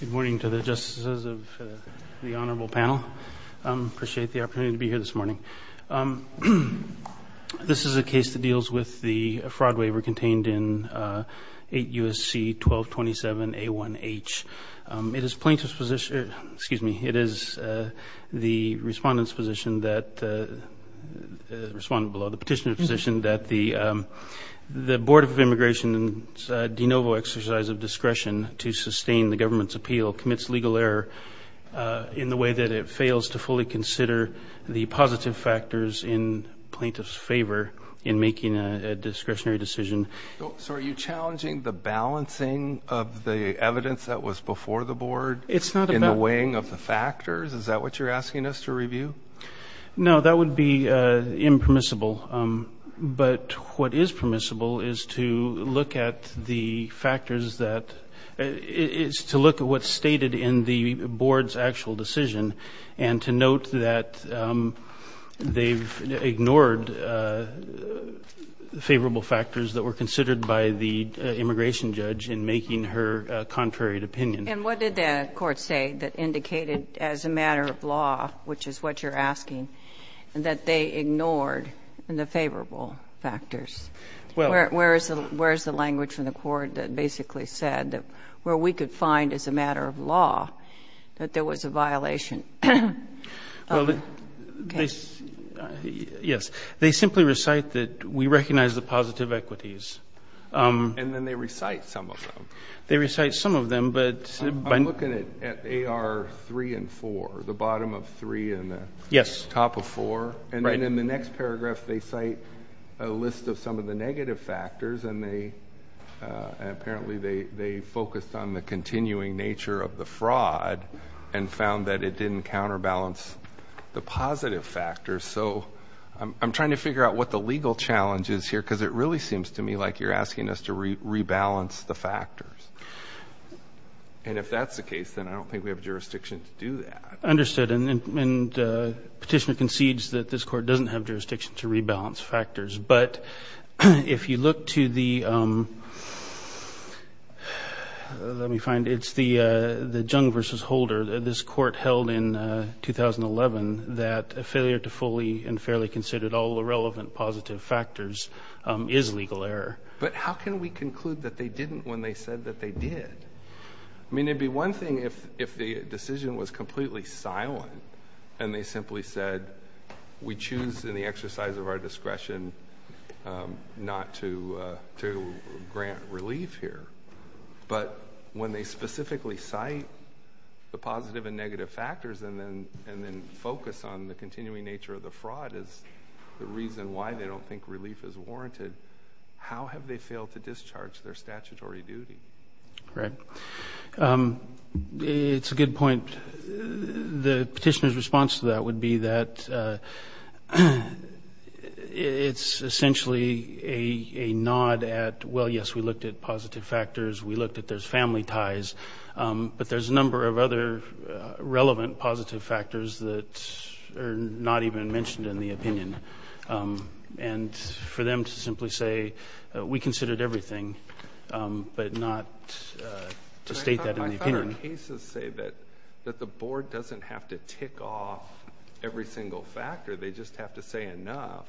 Good morning to the justices of the honorable panel. I appreciate the opportunity to be here this morning. This is a case that deals with the fraud waiver contained in 8 U.S.C. 1227 A1H. It is plaintiff's position, excuse me, it is the respondent's position that, respondent below, the petitioner's position that the Board of Immigration's de novo exercise of discretion to sustain the government's appeal commits legal error in the way that it fails to fully consider the positive factors in plaintiff's favor in making a discretionary decision. So are you challenging the balancing of the evidence that was before the board in the weighing of the factors? Is that what you're asking us to review? No, that would be impermissible. But what is permissible is to look at the factors that, is to look at what's stated in the board's actual decision and to note that they've ignored favorable factors that were considered by the immigration judge in making her contrary opinion. And what did the court say that indicated as a matter of law, which is what you're asking, that they ignored the favorable factors? Where is the language from the court that basically said that where we could find as a matter of law that there was a violation? Well, yes. They simply recite that we recognize the positive equities. And then they recite some of them. I'm looking at AR 3 and 4, the bottom of 3 and the top of 4. And then in the next paragraph they cite a list of some of the negative factors, and apparently they focused on the continuing nature of the fraud and found that it didn't counterbalance the positive factors. So I'm trying to figure out what the legal challenge is here, because it really seems to me like you're asking us to rebalance the factors. And if that's the case, then I don't think we have jurisdiction to do that. Understood. And the petitioner concedes that this court doesn't have jurisdiction to rebalance factors. But if you look to the, let me find, it's the Jung v. Holder. This court held in 2011 that a failure to fully and fairly consider all the relevant positive factors is legal error. But how can we conclude that they didn't when they said that they did? I mean, it would be one thing if the decision was completely silent and they simply said we choose in the exercise of our discretion not to grant relief here. But when they specifically cite the positive and negative factors and then focus on the continuing nature of the fraud as the reason why they don't think relief is warranted, how have they failed to discharge their statutory duty? Right. It's a good point. The petitioner's response to that would be that it's essentially a nod at, well, yes, we looked at positive factors, we looked at those family ties, but there's a number of other relevant positive factors that are not even mentioned in the opinion. And for them to simply say we considered everything but not to state that in the opinion. I thought our cases say that the board doesn't have to tick off every single factor. They just have to say enough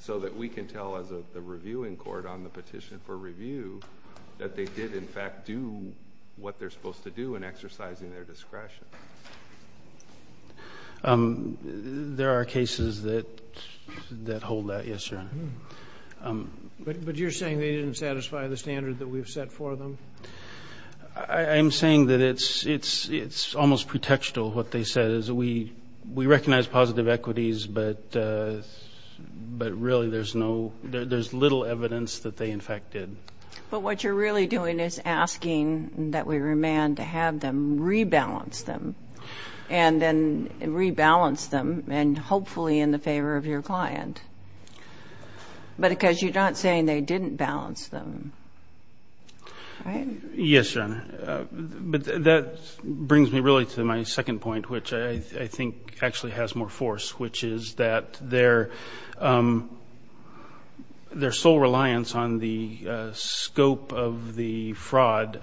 so that we can tell as the reviewing court on the petition for review that they did, in fact, do what they're supposed to do in exercising their discretion. There are cases that hold that. Yes, sir. But you're saying they didn't satisfy the standard that we've set for them? I'm saying that it's almost pretextual what they said is we recognize positive equities, but really there's little evidence that they, in fact, did. But what you're really doing is asking that we remand to have them rebalance them and then rebalance them and hopefully in the favor of your client. But because you're not saying they didn't balance them, right? Yes, Your Honor. But that brings me really to my second point, which I think actually has more force, which is that their sole reliance on the scope of the fraud,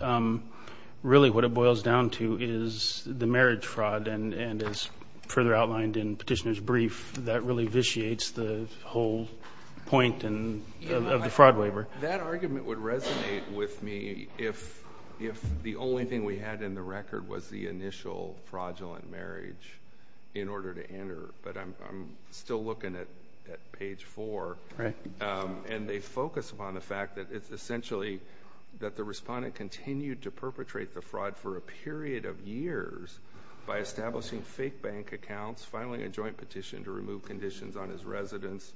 really what it boils down to is the marriage fraud, and as further outlined in Petitioner's brief, that really vitiates the whole point of the fraud waiver. That argument would resonate with me if the only thing we had in the record was the initial fraudulent marriage in order to enter. But I'm still looking at page 4. And they focus upon the fact that it's essentially that the respondent continued to perpetrate the fraud for a period of years by establishing fake bank accounts, filing a joint petition to remove conditions on his residence,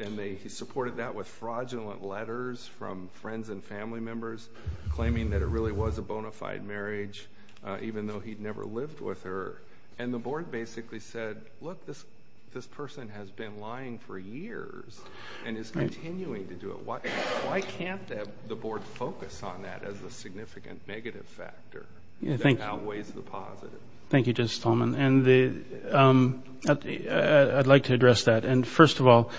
and he supported that with fraudulent letters from friends and family members claiming that it really was a bona fide marriage even though he'd never lived with her. And the board basically said, look, this person has been lying for years and is continuing to do it. Why can't the board focus on that as a significant negative factor that outweighs the positive? Thank you, Justice Tolman. And I'd like to address that. And first of all,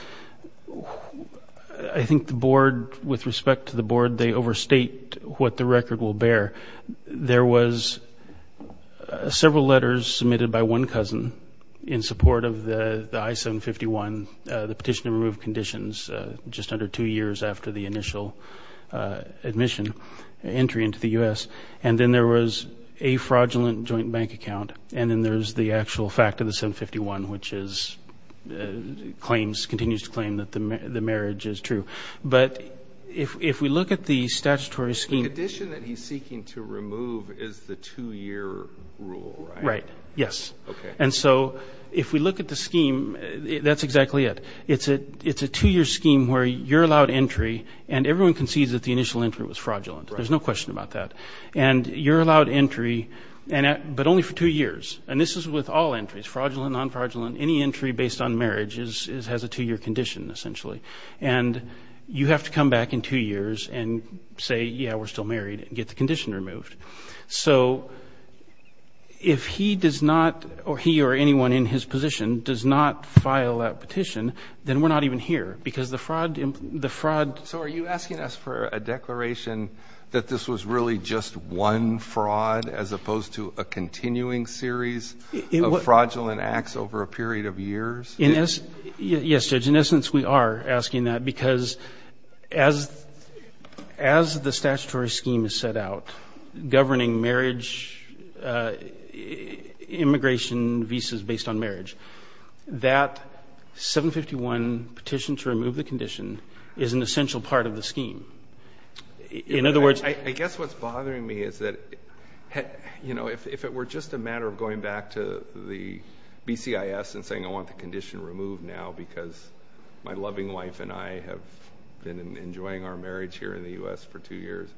I think the board, with respect to the board, they overstate what the record will bear. There was several letters submitted by one cousin in support of the I-751, the petition to remove conditions just under two years after the initial admission entry into the U.S. And then there was a fraudulent joint bank account. And then there's the actual fact of the I-751, which is claims, continues to claim that the marriage is true. But if we look at the statutory scheme. The condition that he's seeking to remove is the two-year rule, right? Right, yes. Okay. And so if we look at the scheme, that's exactly it. It's a two-year scheme where you're allowed entry, and everyone concedes that the initial entry was fraudulent. There's no question about that. And you're allowed entry, but only for two years. And this is with all entries, fraudulent, non-fraudulent. Any entry based on marriage has a two-year condition, essentially. And you have to come back in two years and say, yeah, we're still married and get the condition removed. So if he does not, or he or anyone in his position does not file that petition, then we're not even here, because the fraud. So are you asking us for a declaration that this was really just one fraud as opposed to a continuing series of fraudulent acts over a period of years? Yes, Judge. In essence, we are asking that, because as the statutory scheme is set out governing marriage, immigration visas based on marriage, that 751 petition to remove the condition is an essential part of the scheme. In other words ‑‑ I guess what's bothering me is that, you know, if it were just a matter of going back to the BCIS and saying I want the condition removed now because my loving wife and I have been enjoying our marriage here in the U.S. for two years,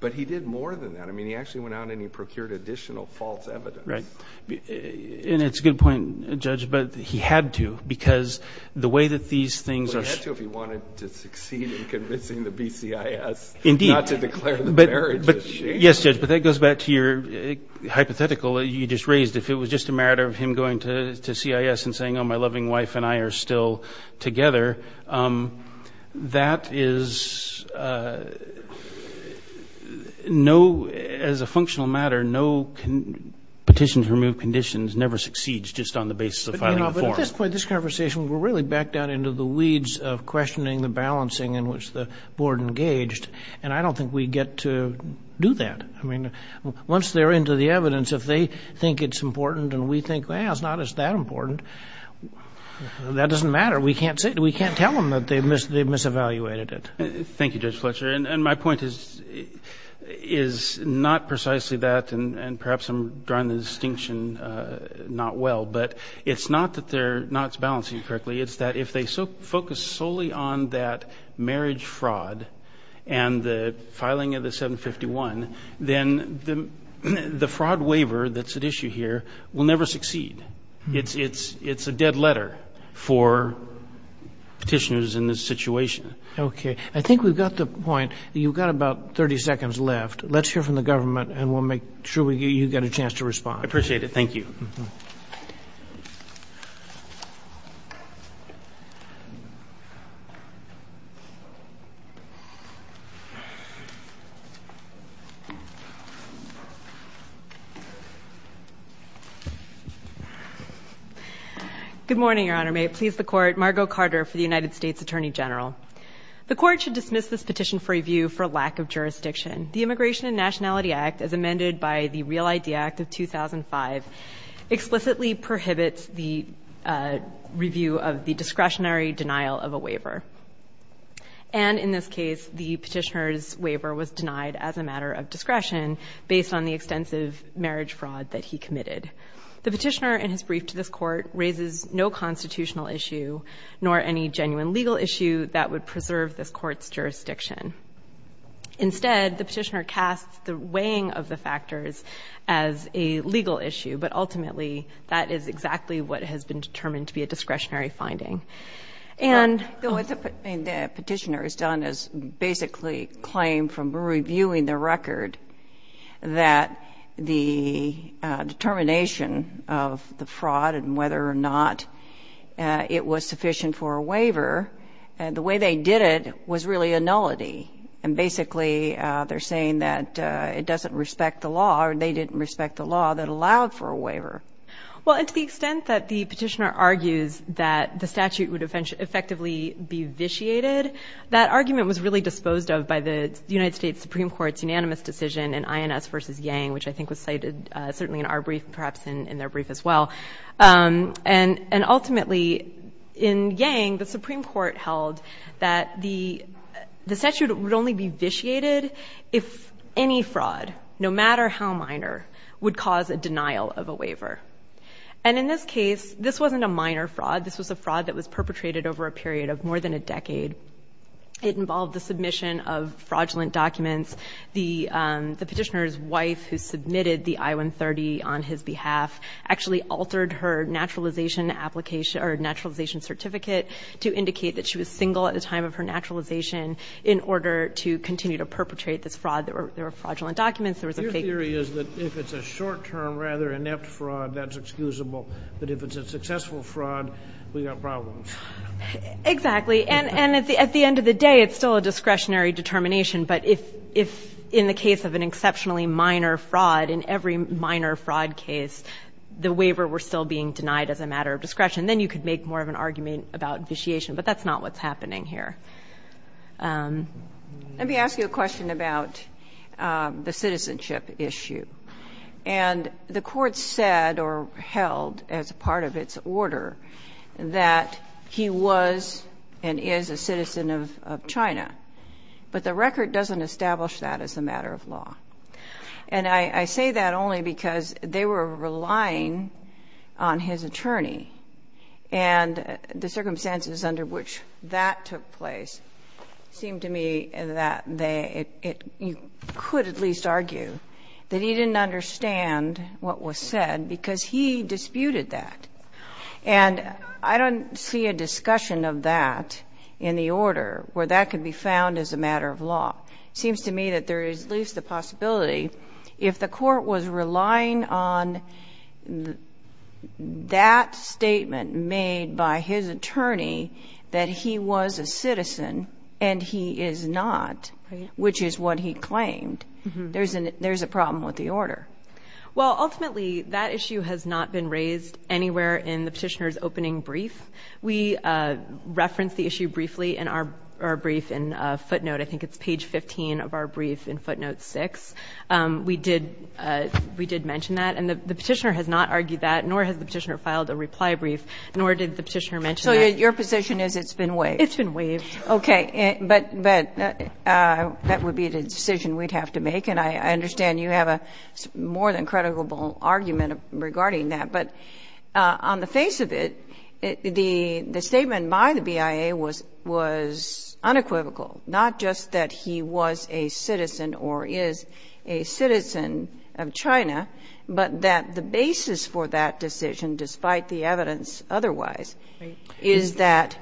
but he did more than that. I mean, he actually went out and he procured additional false evidence. Right. And it's a good point, Judge, but he had to, because the way that these things are ‑‑ Well, he had to if he wanted to succeed in convincing the BCIS not to declare the marriage as shameful. Yes, Judge, but that goes back to your hypothetical that you just raised. If it was just a matter of him going to CIS and saying, oh, my loving wife and I are still together, that is no ‑‑ as a functional matter, no petition to remove conditions never succeeds just on the basis of filing a form. But, you know, at this point in this conversation, we're really back down into the weeds of questioning the balancing in which the board engaged, and I don't think we get to do that. I mean, once they're into the evidence, if they think it's important and we think, well, it's not as that important, that doesn't matter. We can't tell them that they've misevaluated it. Thank you, Judge Fletcher. And my point is not precisely that, and perhaps I'm drawing the distinction not well, but it's not that they're not balancing correctly. It's that if they focus solely on that marriage fraud and the filing of the 751, then the fraud waiver that's at issue here will never succeed. It's a dead letter for petitioners in this situation. Okay. I think we've got the point. You've got about 30 seconds left. Let's hear from the government, and we'll make sure you get a chance to respond. I appreciate it. Thank you. Good morning, Your Honor. May it please the Court, Margo Carter for the United States Attorney General. The Court should dismiss this petition for review for lack of jurisdiction. The Immigration and Nationality Act, as amended by the Real ID Act of 2005, explicitly prohibits the review of the discretionary denial of a waiver. And in this case, the petitioner's waiver was denied as a matter of discretion based on the extensive marriage fraud that he committed. The petitioner in his brief to this Court raises no constitutional issue nor any genuine legal issue that would preserve this Court's jurisdiction. Instead, the petitioner casts the weighing of the factors as a legal issue, but ultimately that is exactly what has been determined to be a discretionary finding. And the petitioner has done is basically claim from reviewing the record that the determination of the fraud and whether or not it was sufficient for a waiver, the way they did it was really a nullity. And basically they're saying that it doesn't respect the law or they didn't respect the law that allowed for a waiver. Well, and to the extent that the petitioner argues that the statute would effectively be vitiated, that argument was really disposed of by the United States Supreme Court's unanimous decision in INS versus Yang, which I think was cited certainly in our brief and perhaps in their brief as well. And ultimately in Yang, the Supreme Court held that the statute would only be vitiated if any fraud, no matter how minor, would cause a denial of a waiver. And in this case, this wasn't a minor fraud. This was a fraud that was perpetrated over a period of more than a decade. It involved the submission of fraudulent documents. The petitioner's wife, who submitted the I-130 on his behalf, actually altered her naturalization application or naturalization certificate to indicate that she was single at the time of her naturalization in order to continue to perpetrate this fraud. There were fraudulent documents. Your theory is that if it's a short-term, rather inept fraud, that's excusable. But if it's a successful fraud, we've got problems. Exactly. And at the end of the day, it's still a discretionary determination. But if in the case of an exceptionally minor fraud, in every minor fraud case, the waiver were still being denied as a matter of discretion, then you could make more of an argument about vitiation. But that's not what's happening here. Let me ask you a question about the citizenship issue. And the Court said or held, as part of its order, that he was and is a citizen of China. But the record doesn't establish that as a matter of law. And I say that only because they were relying on his attorney. And the circumstances under which that took place seemed to me that they — you could at least argue that he didn't understand what was said because he disputed that. And I don't see a discussion of that in the order where that could be found as a matter of law. It seems to me that there is at least the possibility, if the Court was relying on that statement made by his attorney that he was a citizen and he is not, which is what he claimed, there's a problem with the order. Well, ultimately, that issue has not been raised anywhere in the petitioner's opening brief. We referenced the issue briefly in our brief in footnote. I think it's page 15 of our brief in footnote 6. We did mention that. And the petitioner has not argued that, nor has the petitioner filed a reply brief, nor did the petitioner mention that. So your position is it's been waived? It's been waived. Okay. But that would be the decision we'd have to make. And I understand you have a more than credible argument regarding that. But on the face of it, the statement by the BIA was unequivocal, not just that he was a citizen or is a citizen of China, but that the basis for that decision, despite the evidence otherwise, is that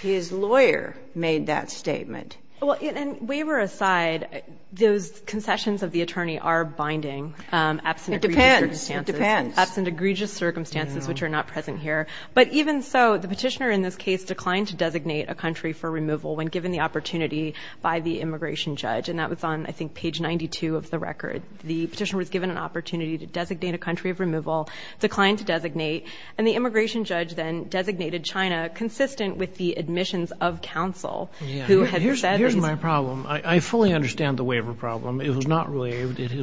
his lawyer made that statement. Well, and waiver aside, those concessions of the attorney are binding. It depends. It depends. Absent egregious circumstances, which are not present here. But even so, the petitioner in this case declined to designate a country for removal when given the opportunity by the immigration judge. And that was on, I think, page 92 of the record. The petitioner was given an opportunity to designate a country of removal, declined to designate, and the immigration judge then designated China, consistent with the admissions of counsel. Here's my problem. I fully understand the waiver problem. It was not waived. In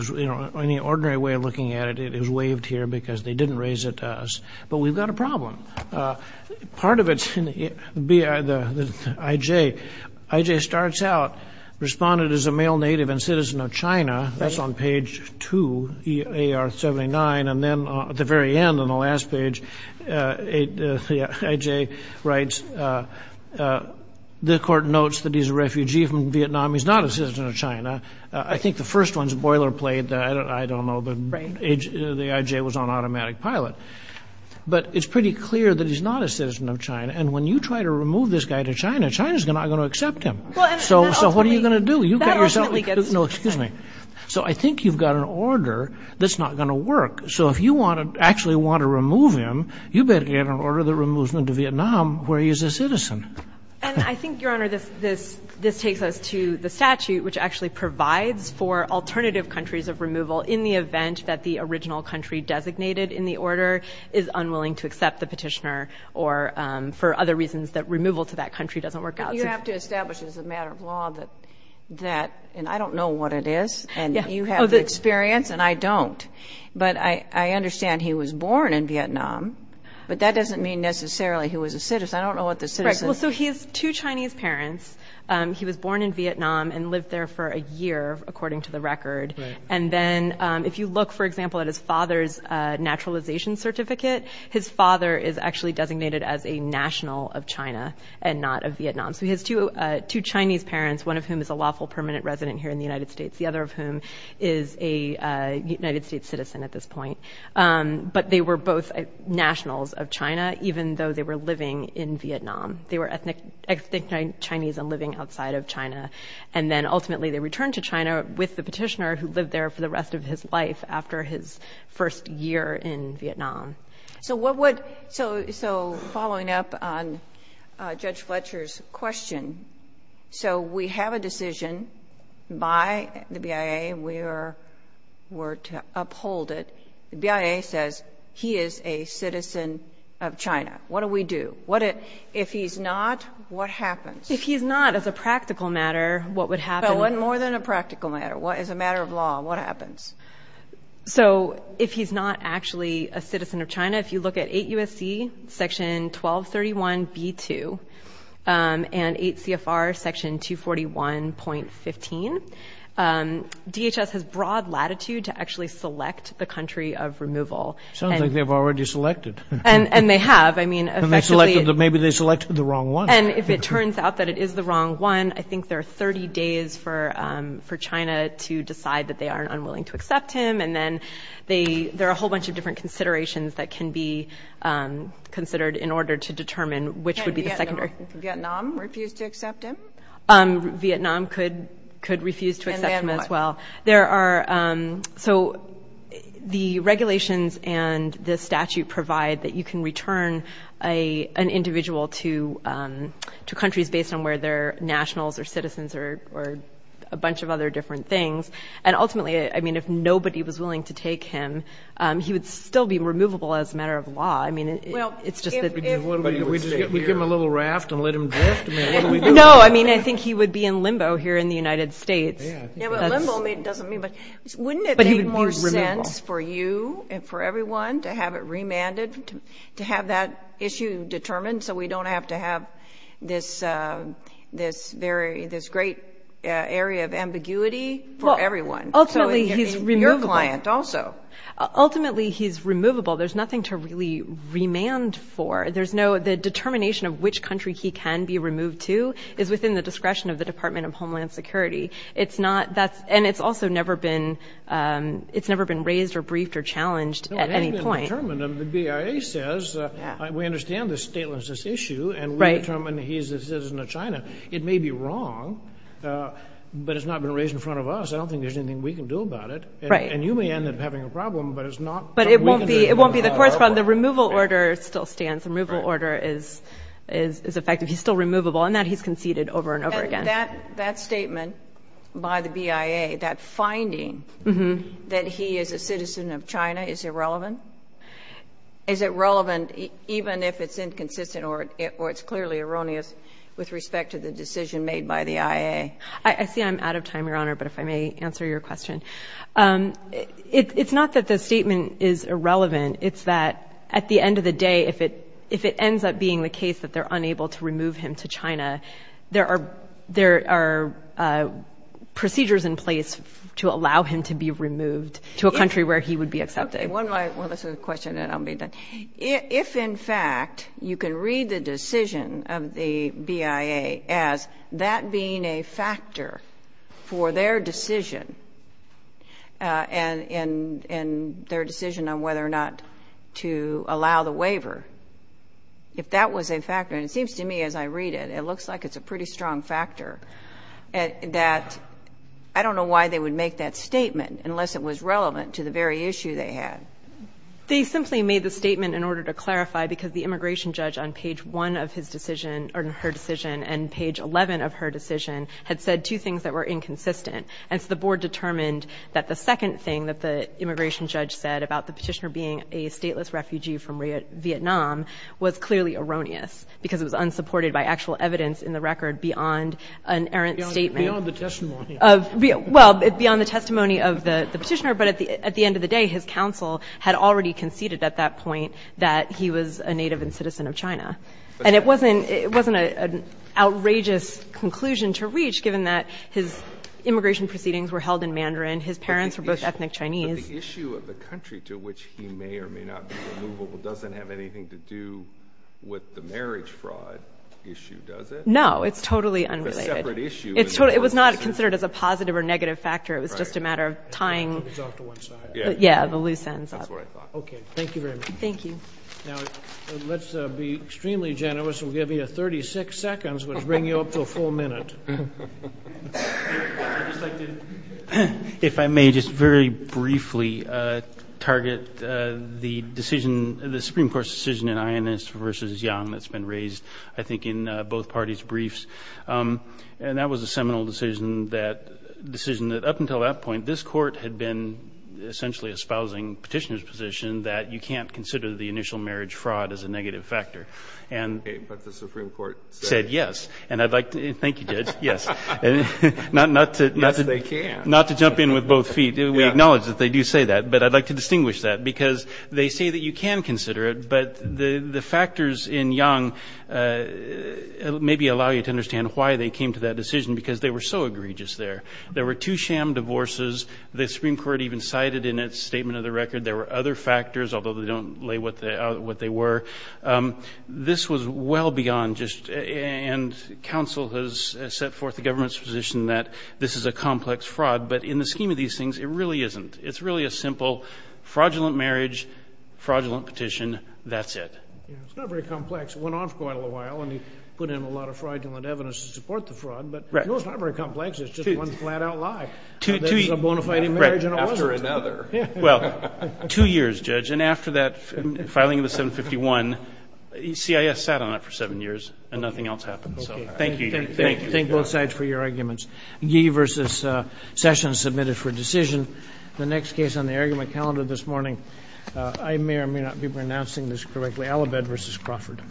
the ordinary way of looking at it, it was waived here because they didn't raise it to us. But we've got a problem. Part of it's in the I.J. I.J. starts out, responded as a male native and citizen of China. That's on page 2, A.R. 79. And then at the very end, on the last page, I.J. writes, the court notes that he's a refugee from Vietnam. He's not a citizen of China. I think the first one's boilerplate. I don't know. The I.J. was on automatic pilot. But it's pretty clear that he's not a citizen of China. And when you try to remove this guy to China, China's not going to accept him. So what are you going to do? That ultimately gets to him. No, excuse me. So I think you've got an order that's not going to work. So if you actually want to remove him, you better get an order that removes him to Vietnam where he's a citizen. And I think, Your Honor, this takes us to the statute, which actually provides for alternative countries of removal in the event that the original country designated in the order is unwilling to accept the petitioner or for other reasons that removal to that country doesn't work out. But you have to establish as a matter of law that that, and I don't know what it is. And you have the experience, and I don't. But I understand he was born in Vietnam, but that doesn't mean necessarily he was a citizen. Because I don't know what the citizen. Well, so he has two Chinese parents. He was born in Vietnam and lived there for a year, according to the record. And then if you look, for example, at his father's naturalization certificate, his father is actually designated as a national of China and not of Vietnam. So he has two Chinese parents, one of whom is a lawful permanent resident here in the United States, the other of whom is a United States citizen at this point. But they were both nationals of China, even though they were living in Vietnam. They were ethnic Chinese and living outside of China. And then ultimately they returned to China with the petitioner who lived there for the rest of his life after his first year in Vietnam. So following up on Judge Fletcher's question, so we have a decision by the BIA. We're to uphold it. The BIA says he is a citizen of China. What do we do? If he's not, what happens? If he's not, as a practical matter, what would happen? More than a practical matter. As a matter of law, what happens? So if he's not actually a citizen of China, if you look at 8 U.S.C. section 1231b2 and 8 CFR section 241.15, DHS has broad latitude to actually select the country of removal. Sounds like they've already selected. And they have. I mean, effectively. Maybe they selected the wrong one. And if it turns out that it is the wrong one, I think there are 30 days for China to decide that they aren't unwilling to accept him. And then there are a whole bunch of different considerations that can be considered in order to determine which would be the secondary. Can Vietnam refuse to accept him? Vietnam could refuse to accept him as well. And then what? So the regulations and the statute provide that you can return an individual to countries based on whether they're nationals or citizens or a bunch of other different things. And ultimately, I mean, if nobody was willing to take him, he would still be removable as a matter of law. I mean, it's just that. We give him a little raft and let him drift? I mean, what do we do? No, I mean, I think he would be in limbo here in the United States. Yeah, but limbo doesn't mean. But wouldn't it make more sense for you and for everyone to have it remanded, Ultimately, he's removable. Ultimately, he's removable. There's nothing to really remand for. The determination of which country he can be removed to is within the discretion of the Department of Homeland Security. And it's also never been raised or briefed or challenged at any point. No, it hasn't been determined. The BIA says, we understand the statelessness issue, and we determine he's a citizen of China. It may be wrong, but it's not been raised in front of us. I don't think there's anything we can do about it. And you may end up having a problem, but it's not. But it won't be the court's problem. The removal order still stands. The removal order is effective. He's still removable in that he's conceded over and over again. That statement by the BIA, that finding that he is a citizen of China, is irrelevant? Is it relevant even if it's inconsistent or it's clearly erroneous with respect to the decision made by the IA? I see I'm out of time, Your Honor, but if I may answer your question. It's not that the statement is irrelevant. It's that, at the end of the day, if it ends up being the case that they're unable to remove him to China, there are procedures in place to allow him to be removed to a country where he would be accepted. Well, that's a good question, and I'll be done. If, in fact, you can read the decision of the BIA as that being a factor for their decision and their decision on whether or not to allow the waiver, if that was a factor, and it seems to me as I read it, it looks like it's a pretty strong factor, that I don't know why they would make that statement unless it was relevant to the very issue they had. They simply made the statement in order to clarify because the immigration judge on page 1 of his decision or her decision and page 11 of her decision had said two things that were inconsistent. And so the board determined that the second thing that the immigration judge said about the petitioner being a stateless refugee from Vietnam was clearly erroneous because it was unsupported by actual evidence in the record beyond an errant statement. Beyond the testimony. Well, beyond the testimony of the petitioner, but at the end of the day his counsel had already conceded at that point that he was a native and citizen of China. And it wasn't an outrageous conclusion to reach, given that his immigration proceedings were held in Mandarin, his parents were both ethnic Chinese. But the issue of the country to which he may or may not be removable doesn't have anything to do with the marriage fraud issue, does it? No, it's totally unrelated. It's a separate issue. It was not considered as a positive or negative factor. It was just a matter of tying the loose ends up. Okay. Thank you very much. Thank you. Now, let's be extremely generous. We'll give you 36 seconds, which will bring you up to a full minute. I'd just like to, if I may, just very briefly target the decision, the Supreme Court's decision in Inez versus Yang that's been raised, I think, in both parties' briefs. And that was a seminal decision that up until that point, this Court had been essentially espousing Petitioner's position that you can't consider the initial marriage fraud as a negative factor. But the Supreme Court said yes. Thank you, Judge, yes. Not to jump in with both feet. We acknowledge that they do say that, but I'd like to distinguish that, because they say that you can consider it, but the factors in Yang maybe allow you to understand why they came to that decision, because they were so egregious there. There were two sham divorces. The Supreme Court even cited in its statement of the record there were other factors, although they don't lay what they were. This was well beyond just and counsel has set forth the government's position that this is a complex fraud. But in the scheme of these things, it really isn't. It's really a simple fraudulent marriage, fraudulent petition, that's it. It's not very complex. It went off quite a little while, and he put in a lot of fraudulent evidence to support the fraud. But no, it's not very complex. It's just one flat-out lie. There's a bona fide marriage, and it wasn't. After another. Well, two years, Judge. And after that filing of the 751, CIS sat on it for seven years, and nothing else happened. So thank you. Thank you. Thank both sides for your arguments. Ye versus Sessions submitted for decision. The next case on the argument calendar this morning, I may or may not be pronouncing this correctly, Alabed versus Crawford.